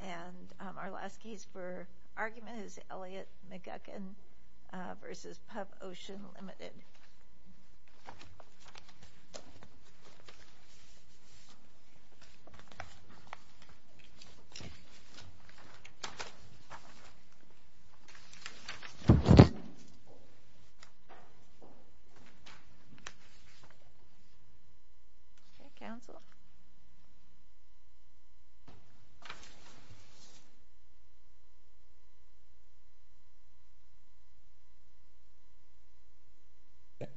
And our last case for argument is Elliot McGuckin versus Pub Ocean Limited. Counsel.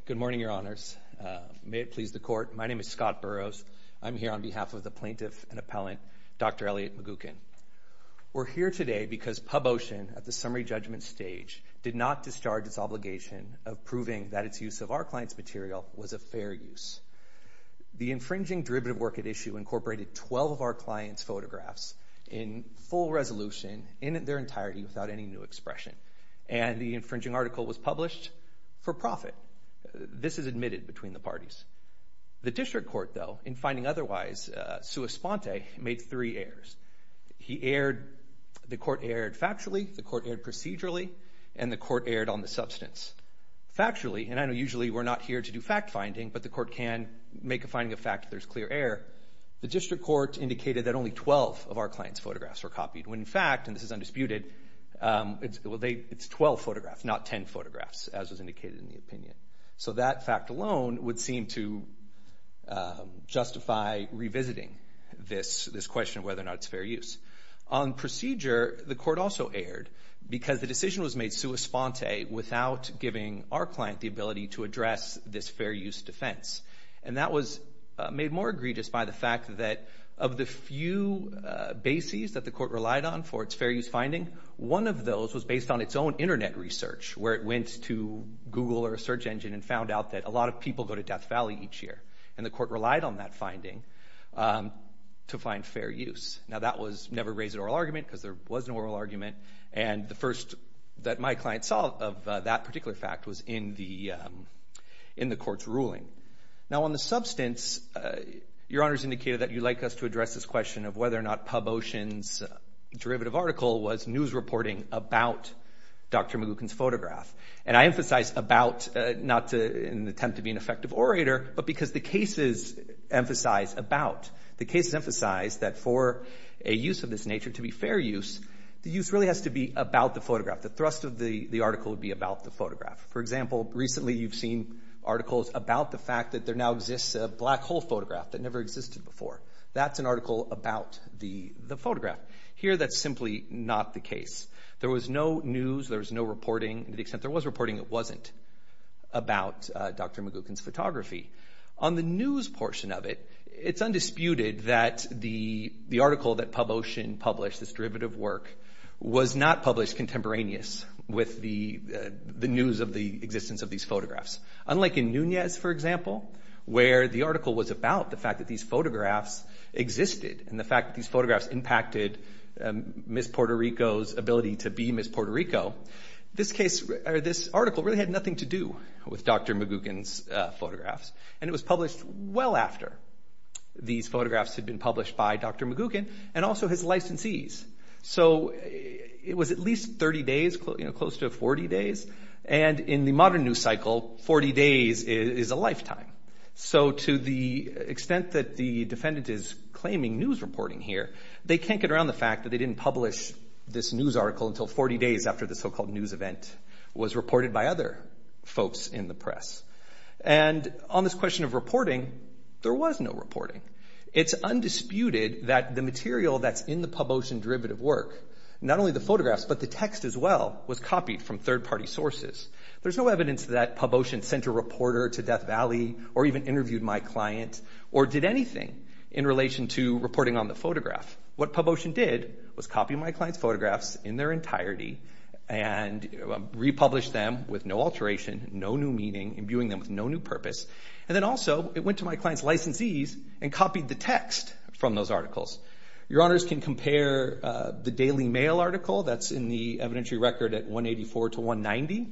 Good morning, Your Honors. May it please the Court, my name is Scott Burroughs. I'm here on behalf of the plaintiff and appellant, Dr. Elliot McGuckin. We're here today because Pub Ocean, at the summary judgment stage, did not discharge its obligation of proving that its use of our client's material was a fair use. The infringing derivative work at issue incorporated 12 of our client's photographs in full resolution, in their entirety, without any new expression. And the infringing article was published for profit. This is admitted between the parties. The district court, though, in finding otherwise, sui sponte, made three errors. He erred, the court erred factually, the court erred procedurally, and the court erred on the substance. Factually, and I know usually we're not here to do fact-finding, but the court can make a finding of fact if there's clear error. The district court indicated that only 12 of our client's photographs were copied, when in fact, and this is undisputed, it's 12 photographs, not 10 photographs, as was indicated in the opinion. So that fact alone would seem to justify revisiting this question of whether or not it's fair use. On procedure, the court also erred because the decision was made sui sponte without giving our client the ability to address this fair use defense. And that was made more egregious by the fact that of the few bases that the court relied on for its fair use finding, one of those was based on its own internet research, where it went to Google or a search engine and found out that a lot of people go to Death Valley each year. And the court relied on that finding to find fair use. Now, that was never raised in oral argument, because there was no oral argument. And the first that my client saw of that particular fact was in the court's ruling. Now, on the substance, your honors indicated that you'd like us to address this question of whether or not PubOcean's derivative article was news reporting about Dr. McGuckin's photograph. And I emphasize about, not in an attempt to be an effective orator, but because the cases emphasize about. The cases emphasize that for a use of this nature to be fair use, the use really has to be about the photograph. The thrust of the article would be about the photograph. For example, recently you've seen articles about the fact that there now exists a black hole photograph that never existed before. That's an article about the photograph. Here, that's simply not the case. There was no news. There was no reporting. To the extent there was reporting, it wasn't about Dr. McGuckin's photography. On the news portion of it, it's undisputed that the article that PubOcean published, this derivative work, was not published contemporaneous with the news of the existence of these photographs. Unlike in Nunez, for example, where the article was about the fact that these photographs existed and the fact that these photographs impacted Ms. Puerto Rico's ability to be Ms. Puerto Rico, this article really had nothing to do with Dr. McGuckin's photographs. And it was published well after these photographs had been published by Dr. McGuckin and also his licensees. So it was at least 30 days, close to 40 days. And in the modern news cycle, 40 days is a lifetime. So to the extent that the defendant is claiming news reporting here, they can't get around the fact that they didn't publish this news article until 40 days after the so-called news event was reported by other folks in the press. And on this question of reporting, there was no reporting. It's undisputed that the material that's in the PubOcean derivative work, not only the photographs, but the text as well, was copied from third-party sources. There's no evidence that PubOcean sent a reporter to Death Valley or even interviewed my client or did anything in relation to reporting on the photograph. What PubOcean did was copy my client's photographs in their entirety and republish them with no alteration, no new meaning, imbuing them with no new purpose. And then also, it went to my client's licensees and copied the text from those articles. Your honors can compare the Daily Mail article that's in the evidentiary record at 184 to 190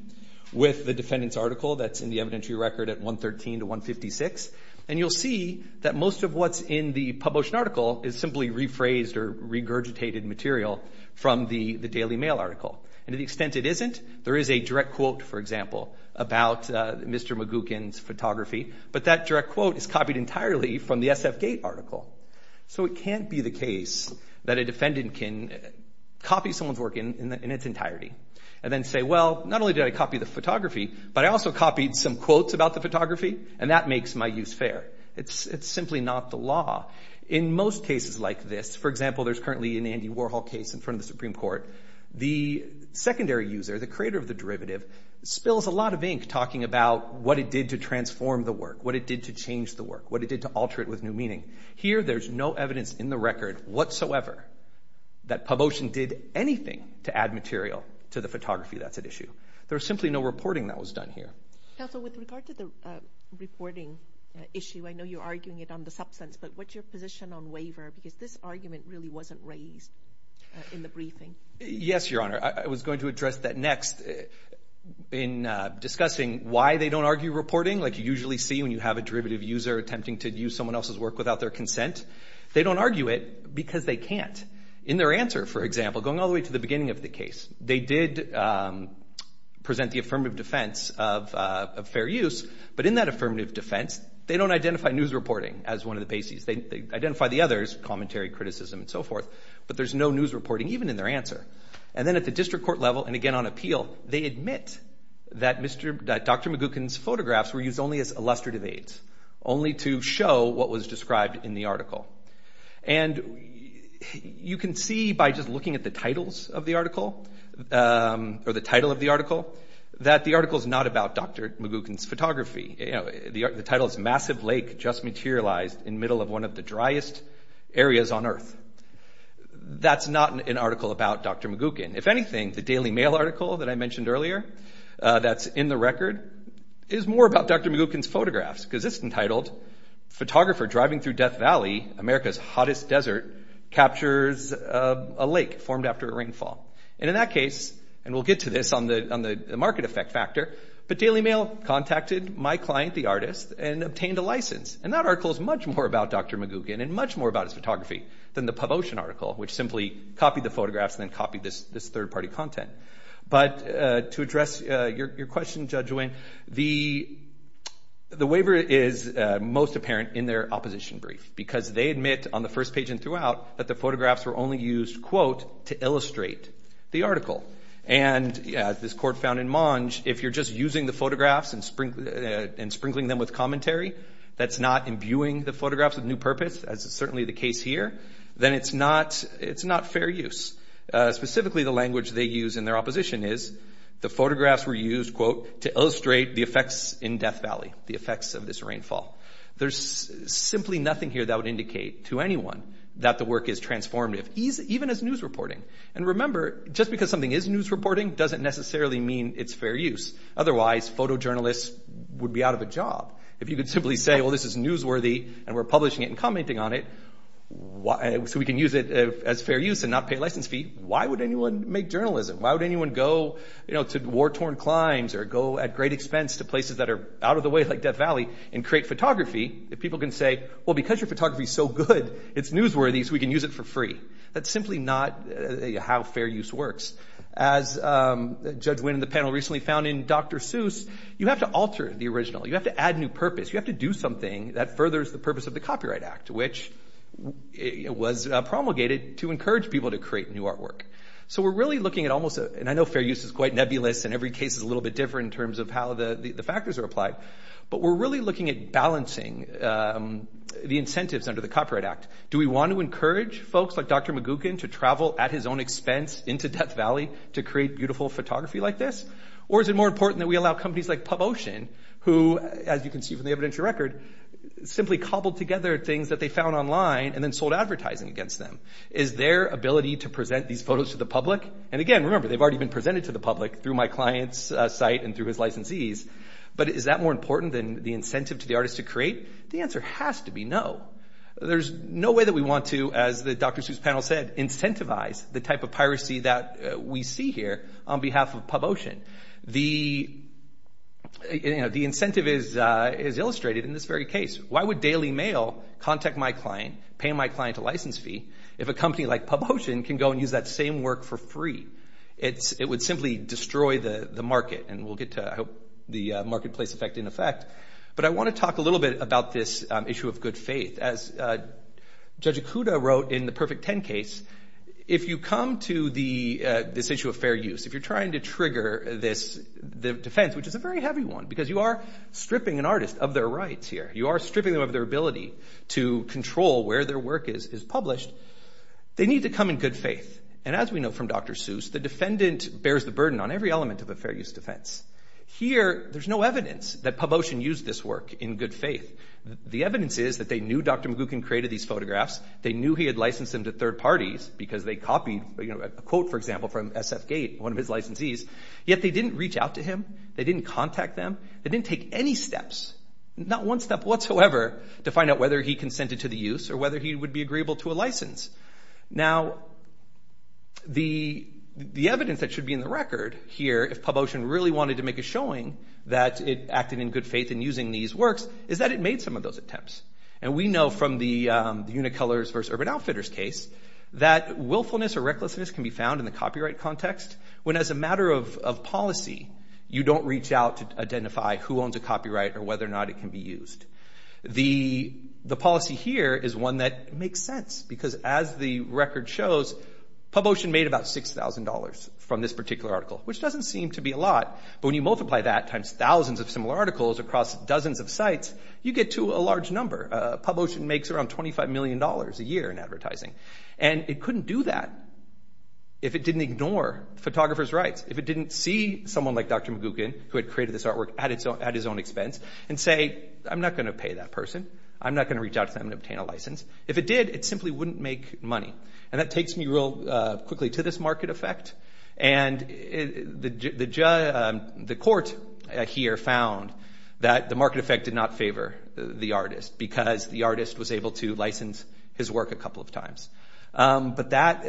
with the defendant's article that's in the evidentiary record at 113 to 156. And you'll see that most of what's in the PubOcean article is simply rephrased or regurgitated material from the Daily Mail article. And to the extent it isn't, there is a direct quote, for example, about Mr. Magookan's photography, but that direct quote is copied entirely from the SFGate article. So it can't be the case that a defendant can copy someone's work in its entirety and then say, well, not only did I copy the photography, but I also copied some quotes about the photography, and that makes my use fair. It's simply not the law. In most cases like this, for example, there's currently an Andy Warhol case in front of the Supreme Court, the secondary user, the creator of the derivative, spills a lot of ink talking about what it did to transform the work, what it did to change the work, what it did to alter it with new meaning. Here, there's no evidence in the record whatsoever that PubOcean did anything to add material to the photography that's at issue. There's simply no reporting that was done here. Counsel, with regard to the reporting issue, I know you're arguing it on the substance, but what's your position on waiver? Because this argument really wasn't raised in the briefing. Yes, Your Honor. I was going to address that next in discussing why they don't argue reporting, like you usually see when you have a derivative user attempting to use someone else's work without their consent. They don't argue it because they can't. In their answer, for example, going all the way to the beginning of the case, they did present the affirmative defense of fair use, but in that affirmative defense, they don't identify news reporting as one of the bases. They identify the others, commentary, criticism, and so forth, but there's no news reporting even in their answer. And then at the district court level, and again on appeal, they admit that Dr. McGuckin's photographs were used only as illustrative aids, only to show what was described in the article. And you can see by just looking at the titles of the article or the title of the article that the article is not about Dr. McGuckin's photography. The title is Massive Lake Just Materialized in Middle of One of the Driest Areas on Earth. That's not an article about Dr. McGuckin. If anything, the Daily Mail article that I mentioned earlier that's in the record is more about Dr. McGuckin's photographs because it's entitled Photographer Driving Through Death Valley, America's Hottest Desert Captures a Lake Formed After a Rainfall. And in that case, and we'll get to this on the market effect factor, but Daily Mail contacted my client, the artist, and obtained a license. And that article is much more about Dr. McGuckin and much more about his photography than the PubOcean article, which simply copied the photographs and then copied this third-party content. But to address your question, Judge Winn, the waiver is most apparent in their opposition brief because they admit on the first page and throughout that the photographs were only used, quote, to illustrate the article. And as this court found in Monge, if you're just using the photographs and sprinkling them with commentary that's not imbuing the photographs with new purpose, as is certainly the case here, then it's not fair use. Specifically, the language they use in their opposition is the photographs were used, quote, to illustrate the effects in Death Valley, the effects of this rainfall. There's simply nothing here that would indicate to anyone that the work is transformative, even as news reporting. And remember, just because something is news reporting doesn't necessarily mean it's fair use. Otherwise, photojournalists would be out of a job. If you could simply say, well, this is newsworthy and we're publishing it and commenting on it so we can use it as fair use and not pay a license fee, why would anyone make journalism? Why would anyone go to war-torn climes or go at great expense to places that are out of the way like Death Valley and create photography if people can say, well, because your photography is so good, it's newsworthy so we can use it for free? That's simply not how fair use works. As Judge Wynn and the panel recently found in Dr. Seuss, you have to alter the original. You have to add new purpose. You have to do something that furthers the purpose of the Copyright Act, which was promulgated to encourage people to create new artwork. So we're really looking at almost, and I know fair use is quite nebulous and every case is a little bit different in terms of how the factors are applied, but we're really looking at balancing the incentives under the Copyright Act. Do we want to encourage folks like Dr. Magookan to travel at his own expense into Death Valley to create beautiful photography like this? Or is it more important that we allow companies like PubOcean, who, as you can see from the evidentiary record, simply cobbled together things that they found online and then sold advertising against them? Is their ability to present these photos to the public, and again, remember they've already been presented to the public through my client's site and through his licensees, but is that more important than the incentive to the artist to create? The answer has to be no. There's no way that we want to, as the Dr. Seuss panel said, incentivize the type of piracy that we see here on behalf of PubOcean. The incentive is illustrated in this very case. Why would Daily Mail contact my client, pay my client a license fee, if a company like PubOcean can go and use that same work for free? It would simply destroy the market, and we'll get to, I hope, the marketplace effect in effect. But I want to talk a little bit about this issue of good faith. As Judge Ikuda wrote in the Perfect Ten case, if you come to this issue of fair use, if you're trying to trigger this defense, which is a very heavy one, because you are stripping an artist of their rights here, you are stripping them of their ability to control where their work is published, they need to come in good faith. And as we know from Dr. Seuss, the defendant bears the burden on every element of a fair use defense. Here, there's no evidence that PubOcean used this work in good faith. The evidence is that they knew Dr. McGuckin created these photographs, they knew he had licensed them to third parties, because they copied a quote, for example, from SF Gate, one of his licensees, yet they didn't reach out to him, they didn't contact them, they didn't take any steps, not one step whatsoever, to find out whether he consented to the use or whether he would be agreeable to a license. Now, the evidence that should be in the record here, if PubOcean really wanted to make a showing that it acted in good faith in using these works, is that it made some of those attempts. And we know from the Unicolors versus Urban Outfitters case, that willfulness or recklessness can be found in the copyright context, when as a matter of policy, you don't reach out to identify who owns a copyright or whether or not it can be used. The policy here is one that makes sense, because as the record shows, PubOcean made about $6,000 from this particular article, which doesn't seem to be a lot, but when you multiply that times thousands of similar articles across dozens of sites, you get to a large number. PubOcean makes around $25 million a year in advertising. And it couldn't do that if it didn't ignore photographers' rights, if it didn't see someone like Dr. McGuckin, who had created this artwork at his own expense, and say, I'm not going to pay that person, I'm not going to reach out to them and obtain a license. If it did, it simply wouldn't make money. And that takes me real quickly to this market effect. And the court here found that the market effect did not favor the artist, because the artist was able to license his work a couple of times. But that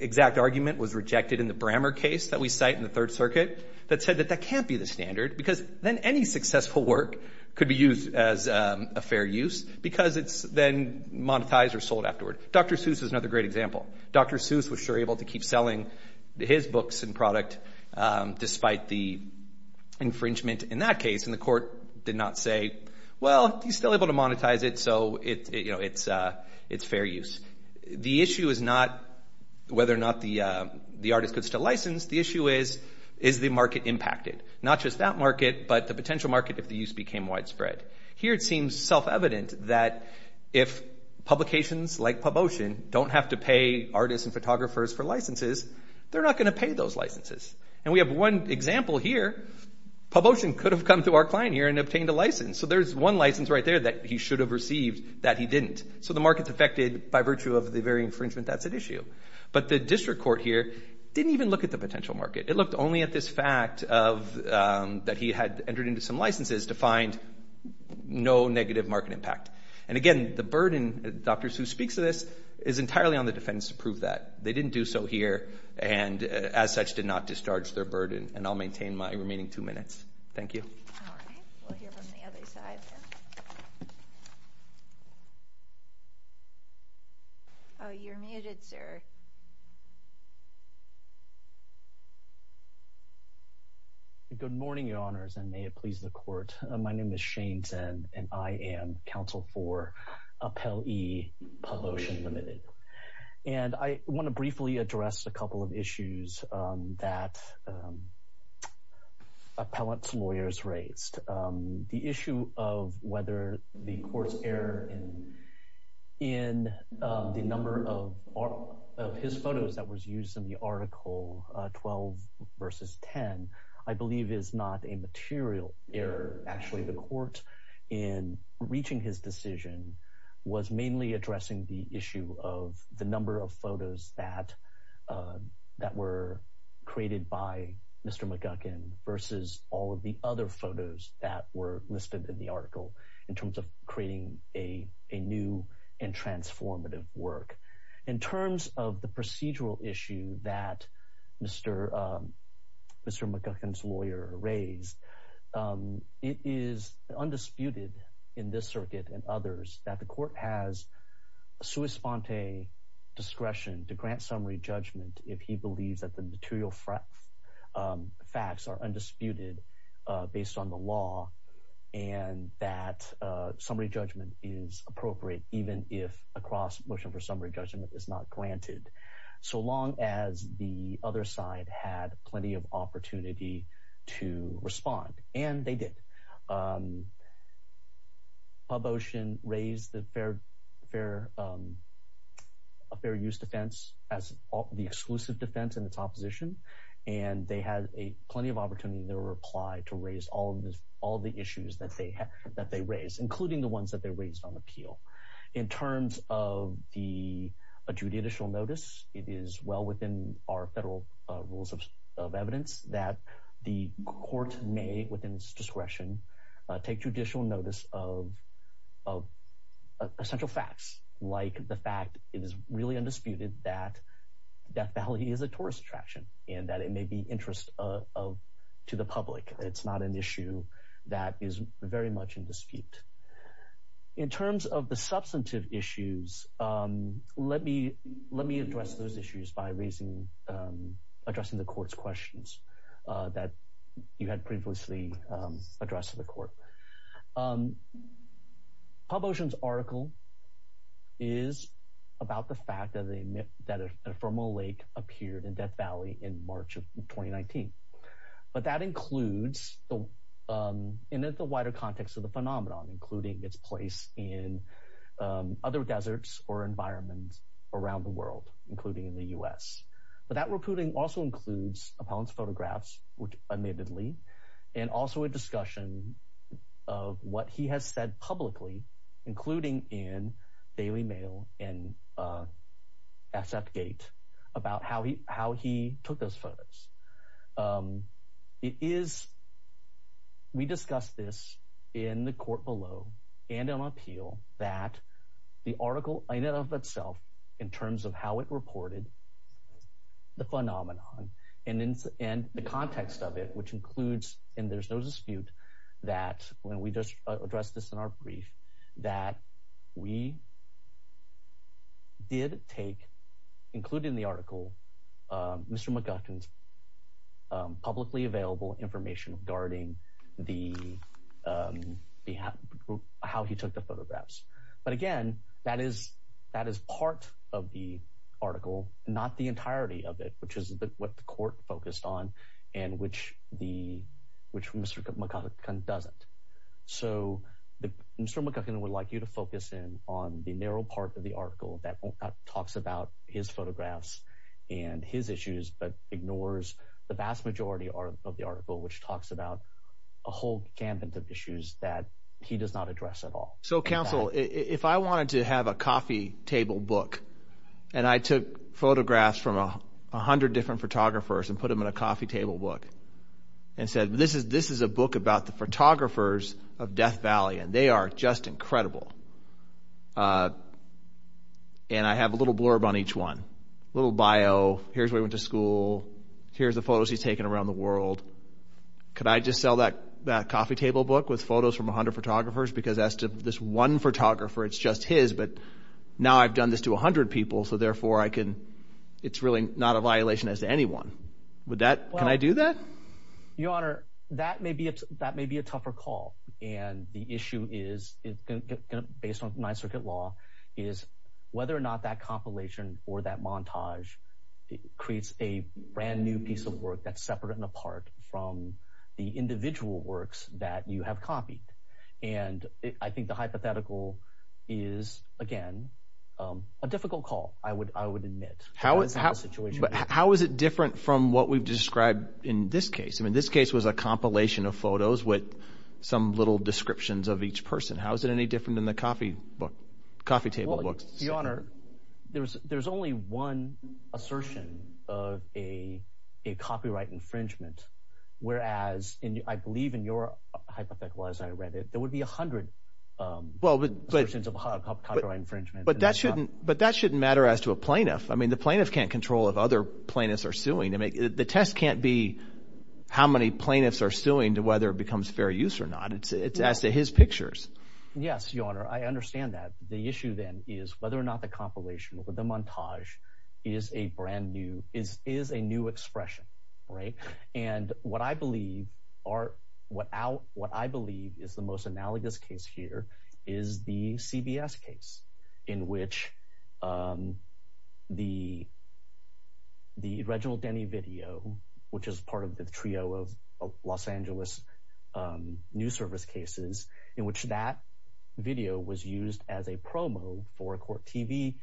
exact argument was rejected in the Brammer case that we cite in the Third Circuit, that said that that can't be the standard, because then any successful work could be used as a fair use, because it's then monetized or sold afterward. Dr. Seuss is another great example. Dr. Seuss was sure able to keep selling his books and product, despite the infringement in that case. And the court did not say, well, he's still able to monetize it, so it's fair use. The issue is not whether or not the artist could still license, the issue is, is the market impacted? Not just that market, but the potential market if the use became widespread. Here, it seems self-evident that if publications like PubOcean don't have to pay artists and photographers for licenses, they're not going to pay those licenses. And we have one example here. PubOcean could have come to our client here and obtained a license. So there's one license right there that he should have received that he didn't. So the market's affected by virtue of the very infringement that's at issue. But the district court here didn't even look at the potential market. It looked only at this fact that he had entered into some licenses to find no negative market impact. And again, the burden, Dr. Suh speaks to this, is entirely on the defense to prove that. They didn't do so here, and as such, did not discharge their burden. And I'll maintain my remaining two minutes. Thank you. All right. We'll hear from the other side there. Oh, you're muted, sir. Good morning, your honors, and may it please the court. My name is Shane Tsen, and I am counsel for Appellee PubOcean Limited. And I want to briefly address a couple of issues that appellate lawyers raised. The issue of whether the court's error in the number of his photos that was used in the article 12 versus 10, I believe, is not a material error. Actually, the court, in reaching his decision, was mainly addressing the issue of the number of photos that were created by Mr. McGuckin versus all of the other photos that were listed in the article in terms of creating a new and transformative work. In terms of the procedural issue that Mr. McGuckin's lawyer raised, it is undisputed in this circuit and others that the court has sua sponte discretion to grant summary judgment if he believes that the material facts are undisputed based on the law and that summary judgment is appropriate, even if a cross-motion for summary judgment is not granted, so long as the other side had plenty of opportunity to respond. And they did. PubOcean raised the fair use defense as the exclusive defense in its opposition, and they had plenty of opportunity in their reply to raise all the issues that they raised, including the ones that they raised on appeal. In terms of the adjudicial notice, it is well within our federal rules of evidence that the court may, within its discretion, take judicial notice of essential facts, like the fact it is really undisputed that Death Valley is a tourist attraction and that it may be interest to the public. It's not an issue that is very much in dispute. In terms of the substantive issues, let me address those issues by addressing the court's questions. That you had previously addressed to the court. PubOcean's article is about the fact that a thermal lake appeared in Death Valley in March of 2019. But that includes, in the wider context of the phenomenon, including its place in other deserts or environments around the world, including in the U.S. But that reporting also includes opponents' photographs, which admittedly, and also a discussion of what he has said publicly, including in Daily Mail and SFGate, about how he took those photos. It is, we discussed this in the court below and on appeal, that the article in and of itself, in terms of how it reported the phenomenon and the context of it, which includes, and there's no dispute that when we just addressed this in our brief, that we did take, including the article, Mr. McGuffin's publicly available information regarding how he took the photographs. But again, that is part of the article, not the entirety of it, which is what the court focused on and which Mr. McGuffin doesn't. So Mr. McGuffin would like you to focus in on the narrow part of the article that talks about his photographs and his issues, but ignores the vast majority of the article, which talks about a whole gamut of issues that he does not address at all. So counsel, if I wanted to have a coffee table book and I took photographs from 100 different photographers and put them in a coffee table book and said, this is a book about the photographers of Death Valley, and they are just incredible, and I have a little blurb on each one, a little bio, here's where he went to school, here's the photos he's taken around the world, could I just sell that coffee table book with photos from 100 photographers because as to this one photographer, it's just his, but now I've done this to 100 people, so therefore it's really not a violation as to anyone. Can I do that? Your Honor, that may be a tougher call. And the issue is, based on Ninth Circuit law, is whether or not that compilation or that montage creates a brand new piece of work that's separate and apart from the individual works that you have copied. And I think the hypothetical is, again, a difficult call, I would admit. How is it different from what we've described in this case? I mean, this case was a compilation of photos with some little descriptions of each person. How is it any different than the coffee book, coffee table book? Your Honor, there's only one assertion of a copyright infringement, whereas I believe in your hypothetical, as I read it, there would be 100 assertions of copyright infringement. But that shouldn't matter as to a plaintiff. I mean, the plaintiff can't control if other plaintiffs are suing. The test can't be how many plaintiffs are suing to whether it becomes fair use or not. It's as to his pictures. Yes, Your Honor, I understand that. The issue then is whether or not the compilation or the montage is a brand new, is a new expression, right? And what I believe is the most analogous case here is the CBS case in which the Reginald Denny video, which is part of the trio of Los Angeles news service cases, in which that video was used as a promo for a court TV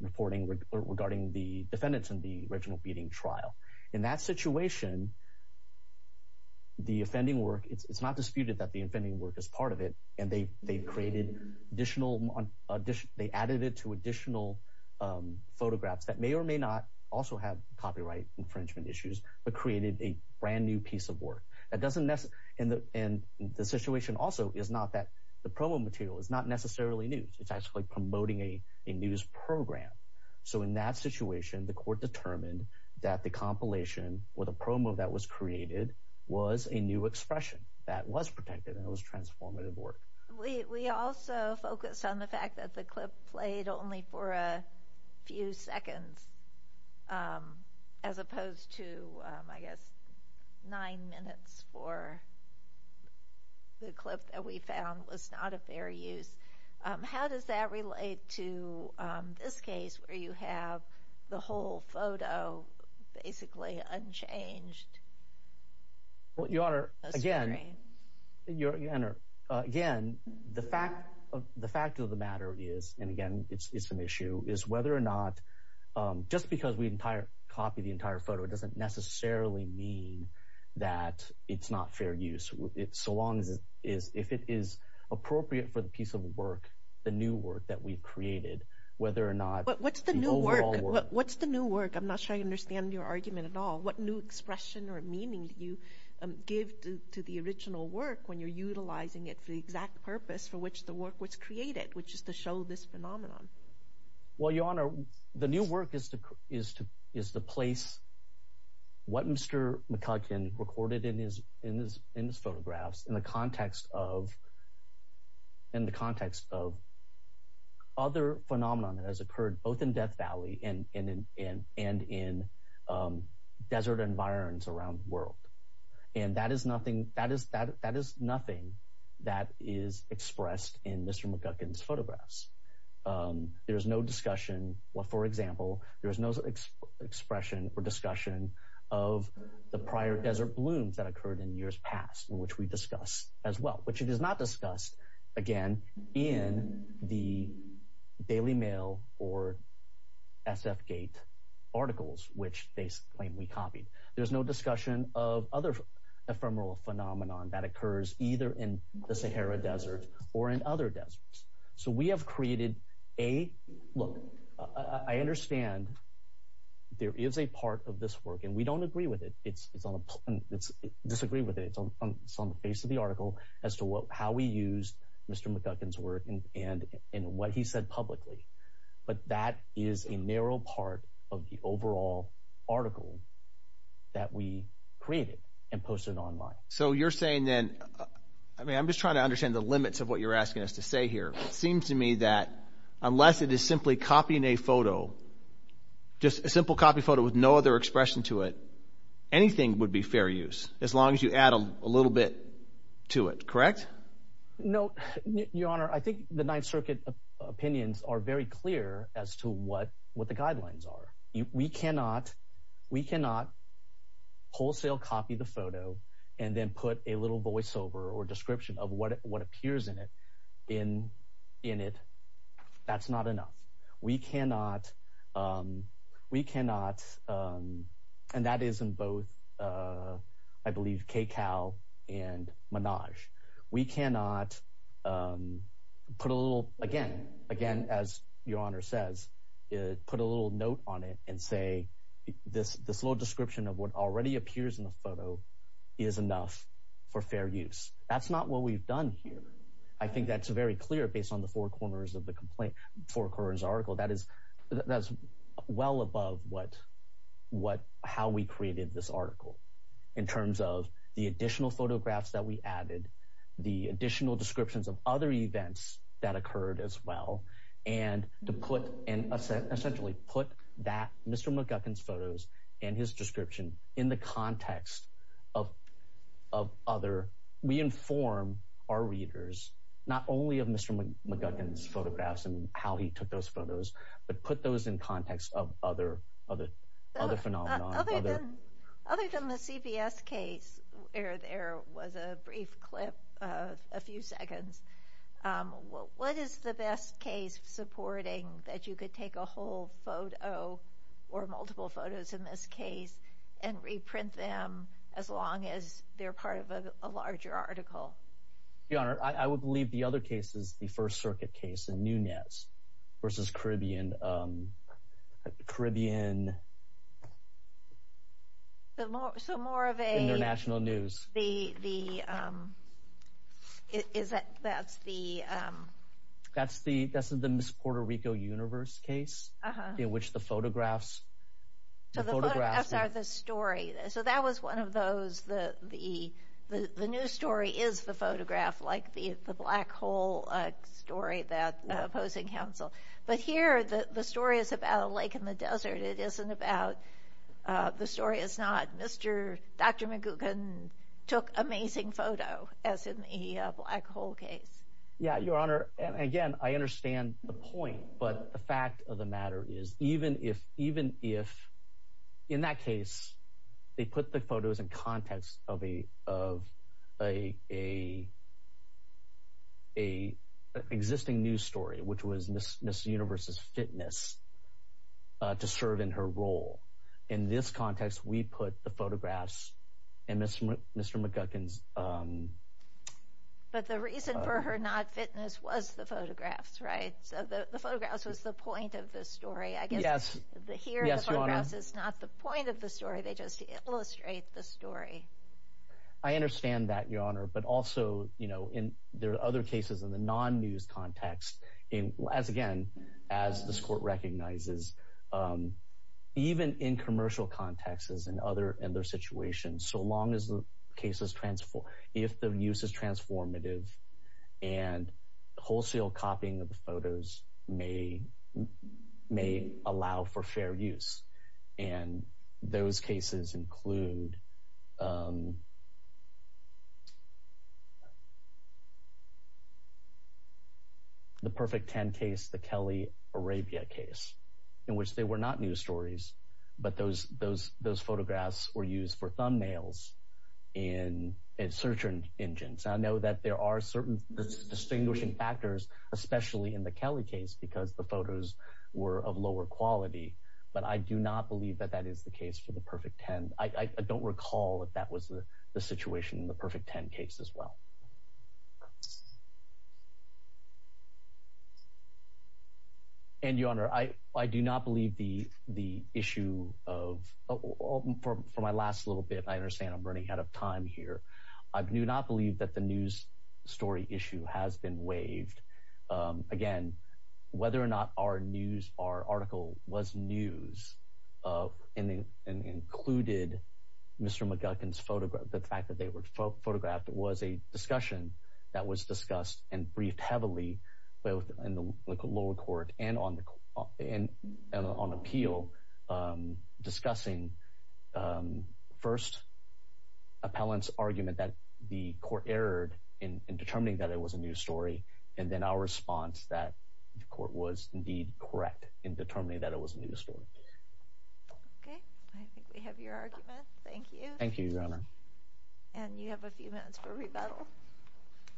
reporting regarding the defendants in the Reginald Beating trial. In that situation, the offending work, it's not disputed that the offending work is part of it, and they created additional, they added it to additional photographs that may or may not also have copyright infringement issues, but created a brand new piece of work. That doesn't, and the situation also is not that the promo material is not necessarily news. It's actually promoting a news program. So in that situation, the court determined that the compilation or the promo that was created was a new expression that was protected, and it was transformative work. We also focused on the fact that the clip played only for a few seconds as opposed to, I guess, nine minutes for the clip that we found was not a fair use. How does that relate to this case where you have the whole photo basically unchanged? Well, Your Honor, again, the fact of the matter is, and again, it's an issue, is whether or not, just because we copy the entire photo doesn't necessarily mean that it's not fair so long as it is appropriate for the piece of work, the new work that we've created, whether or not the overall work. What's the new work? I'm not sure I understand your argument at all. What new expression or meaning do you give to the original work when you're utilizing it for the exact purpose for which the work was created, which is to show this phenomenon? Well, Your Honor, the new work is to place what Mr. McCutcheon recorded in his photographs in the context of other phenomenon that has occurred both in Death Valley and in desert environs around the world, and that is nothing that is expressed in Mr. McCutcheon's photographs. There's no discussion, well, for example, there is no expression or discussion of the prior desert blooms that occurred in years past, which we discussed as well, which it is not discussed, again, in the Daily Mail or SFGate articles, which they claim we copied. There's no discussion of other ephemeral phenomenon that occurs either in the Sahara Desert or in other deserts. So we have created a – look, I understand there is a part of this work, and we don't agree with it. It's on a – disagree with it. It's on the face of the article as to how we used Mr. McCutcheon's work and what he said publicly. But that is a narrow part of the overall article that we created and posted online. So you're saying then – I mean, I'm just trying to understand the limits of what you're saying. It seems to me that unless it is simply copying a photo, just a simple copy photo with no other expression to it, anything would be fair use, as long as you add a little bit to it, correct? No, Your Honor, I think the Ninth Circuit opinions are very clear as to what the guidelines are. We cannot wholesale copy the photo and then put a little voiceover or description of what appears in it in it. That's not enough. We cannot – and that is in both, I believe, KCAL and Menage. We cannot put a little – again, as Your Honor says, put a little note on it and say this little description of what already appears in the photo is enough for fair use. That's not what we've done here. I think that's very clear based on the four corners of the article. That is well above what – how we created this article in terms of the additional photographs that we added, the additional descriptions of other events that occurred as well, and to put – and essentially put that – Mr. McGuckin's photos and his description in the context of other – we inform our readers not only of Mr. McGuckin's photographs and how he took those photos, but put those in context of other phenomena. Other than the CBS case where there was a brief clip of a few seconds, what is the best supporting that you could take a whole photo or multiple photos in this case and reprint them as long as they're part of a larger article? Your Honor, I would believe the other case is the First Circuit case in Nunez versus Caribbean – Caribbean International News. The – is that – that's the – That's the – that's the Miss Puerto Rico Universe case in which the photographs – So the photographs are the story. So that was one of those – the new story is the photograph, like the black hole story that opposing counsel – but here the story is about a lake in the desert. It isn't about – the story is not Mr. – Dr. McGuckin took amazing photo as in the black hole case. Yeah, Your Honor, and again, I understand the point. But the fact of the matter is even if – even if in that case they put the photos in context of a – of a – a – a existing news story, which was Miss Universe's fitness to serve in her role. In this context, we put the photographs and Mr. – Mr. McGuckin's – But the reason for her not fitness was the photographs, right? So the photographs was the point of the story, I guess. Yes, Your Honor. Here the photographs is not the point of the story. They just illustrate the story. I understand that, Your Honor. But also, you know, in – there are other cases in the non-news context, as again, as this court recognizes, even in commercial contexts and other – and their situations, so long as the case is – if the use is transformative and wholesale copying of the photos may allow for fair use. And those cases include the Perfect 10 case, the Kelly Arabia case, in which they were not news stories, but those photographs were used for thumbnails in search engines. I know that there are certain distinguishing factors, especially in the Kelly case, because the photos were of lower quality. But I do not believe that that is the case for the Perfect 10. I don't recall that that was the situation in the Perfect 10 case as well. And, Your Honor, I do not believe the issue of – for my last little bit, I understand I'm running out of time here. I do not believe that the news story issue has been waived. Again, whether or not our news – our article was news and included Mr. McGuckin's – the fact that they were photographed was a discussion that was discussed and briefed heavily both in the lower court and on appeal, discussing first appellant's argument that the court erred in determining that it was a news story, and then our response that the court was indeed correct in determining that it was a news story. HENNEBERGER Okay. I think we have your argument. Thank you. GARGANO Thank you, Your Honor. HENNEBERGER And you have a few minutes for rebuttal. MR.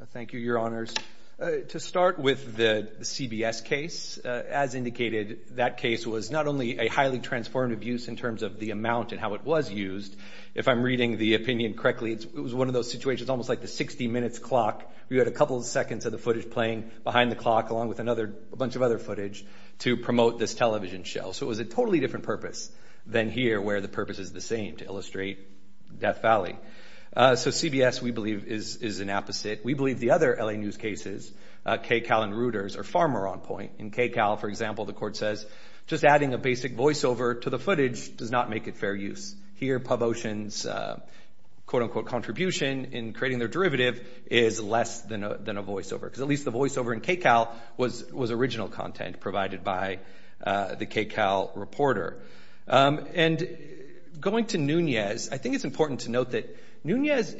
GARGANO Thank you, Your Honors. To start with the CBS case, as indicated, that case was not only a highly transformative abuse in terms of the amount and how it was used. If I'm reading the opinion correctly, it was one of those situations, almost like the 60 minutes clock. We had a couple of seconds of the footage playing behind the clock, along with a bunch of other footage, to promote this television show. So it was a totally different purpose than here, where the purpose is the same, to illustrate Death Valley. So CBS, we believe, is an apposite. We believe the other L.A. news cases, KCAL and Reuters, are far more on point. In KCAL, for example, the court says, just adding a basic voiceover to the footage does not make it fair use. Here, PubOcean's, quote, unquote, contribution in creating their derivative is less than a voiceover, because at least the voiceover in KCAL was original content provided by the KCAL reporter. And going to Nunez, I think it's important to note that Nunez,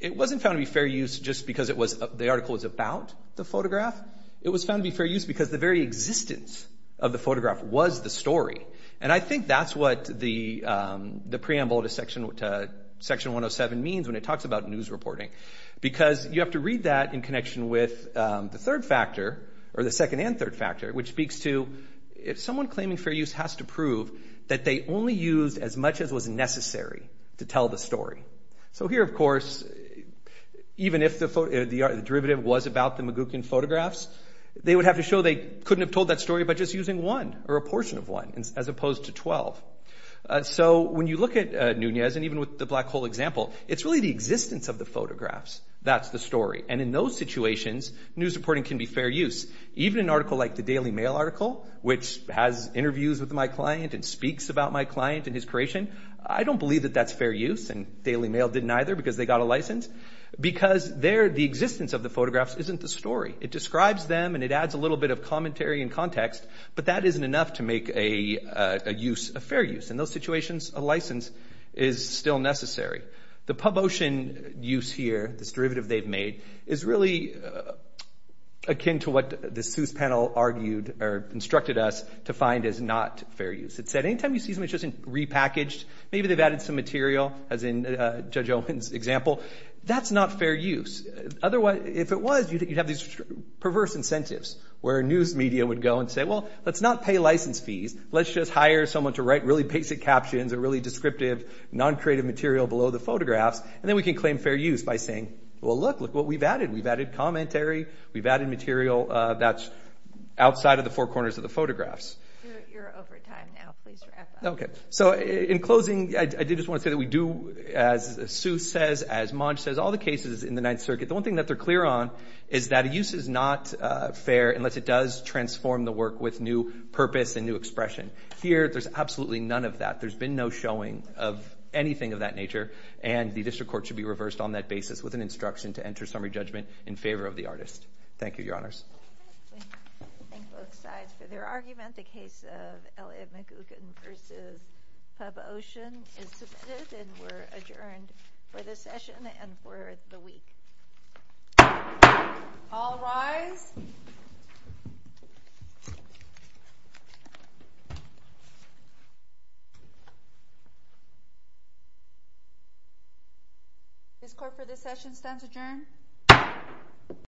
it wasn't found to be fair use just because the article was about the photograph. It was found to be fair use because the very existence of the photograph was the story. And I think that's what the preamble to Section 107 means when it talks about news reporting. Because you have to read that in connection with the third factor, or the second and third factor, which speaks to, if someone claiming fair use has to prove that they only used as much as was necessary to tell the story. So here, of course, even if the derivative was about the Magucan photographs, they would have to show they couldn't have told that story by just using one, or a portion of one, as opposed to 12. So when you look at Nunez, and even with the black hole example, it's really the existence of the photographs that's the story. And in those situations, news reporting can be fair use. Even an article like the Daily Mail article, which has interviews with my client and speaks about my client and his creation, I don't believe that that's fair use. And Daily Mail didn't either, because they got a license. Because there, the existence of the photographs isn't the story. It describes them, and it adds a little bit of commentary and context. But that isn't enough to make a use a fair use. In those situations, a license is still necessary. The Pabotian use here, this derivative they've made, is really akin to what the Seuss panel argued, or instructed us to find as not fair use. Anytime you see something that's just repackaged, maybe they've added some material, as in Judge Owen's example, that's not fair use. If it was, you'd have these perverse incentives, where news media would go and say, well, let's not pay license fees. Let's just hire someone to write really basic captions and really descriptive, non-creative material below the photographs. And then we can claim fair use by saying, well, look, look what we've added. We've added commentary. We've added material that's outside of the four corners of the photographs. You're over time now. Please wrap up. OK. So in closing, I did just want to say that we do, as Seuss says, as Monge says, all the cases in the Ninth Circuit, the one thing that they're clear on is that a use is not fair unless it does transform the work with new purpose and new expression. Here, there's absolutely none of that. There's been no showing of anything of that nature. And the district court should be reversed on that basis with an instruction to enter summary judgment in favor of the artist. Thank you, Your Honors. We thank both sides for their argument. The case of Elliott McGugan v. Pub Ocean is submitted and we're adjourned for this session and for the week. All rise. This court for this session stands adjourned.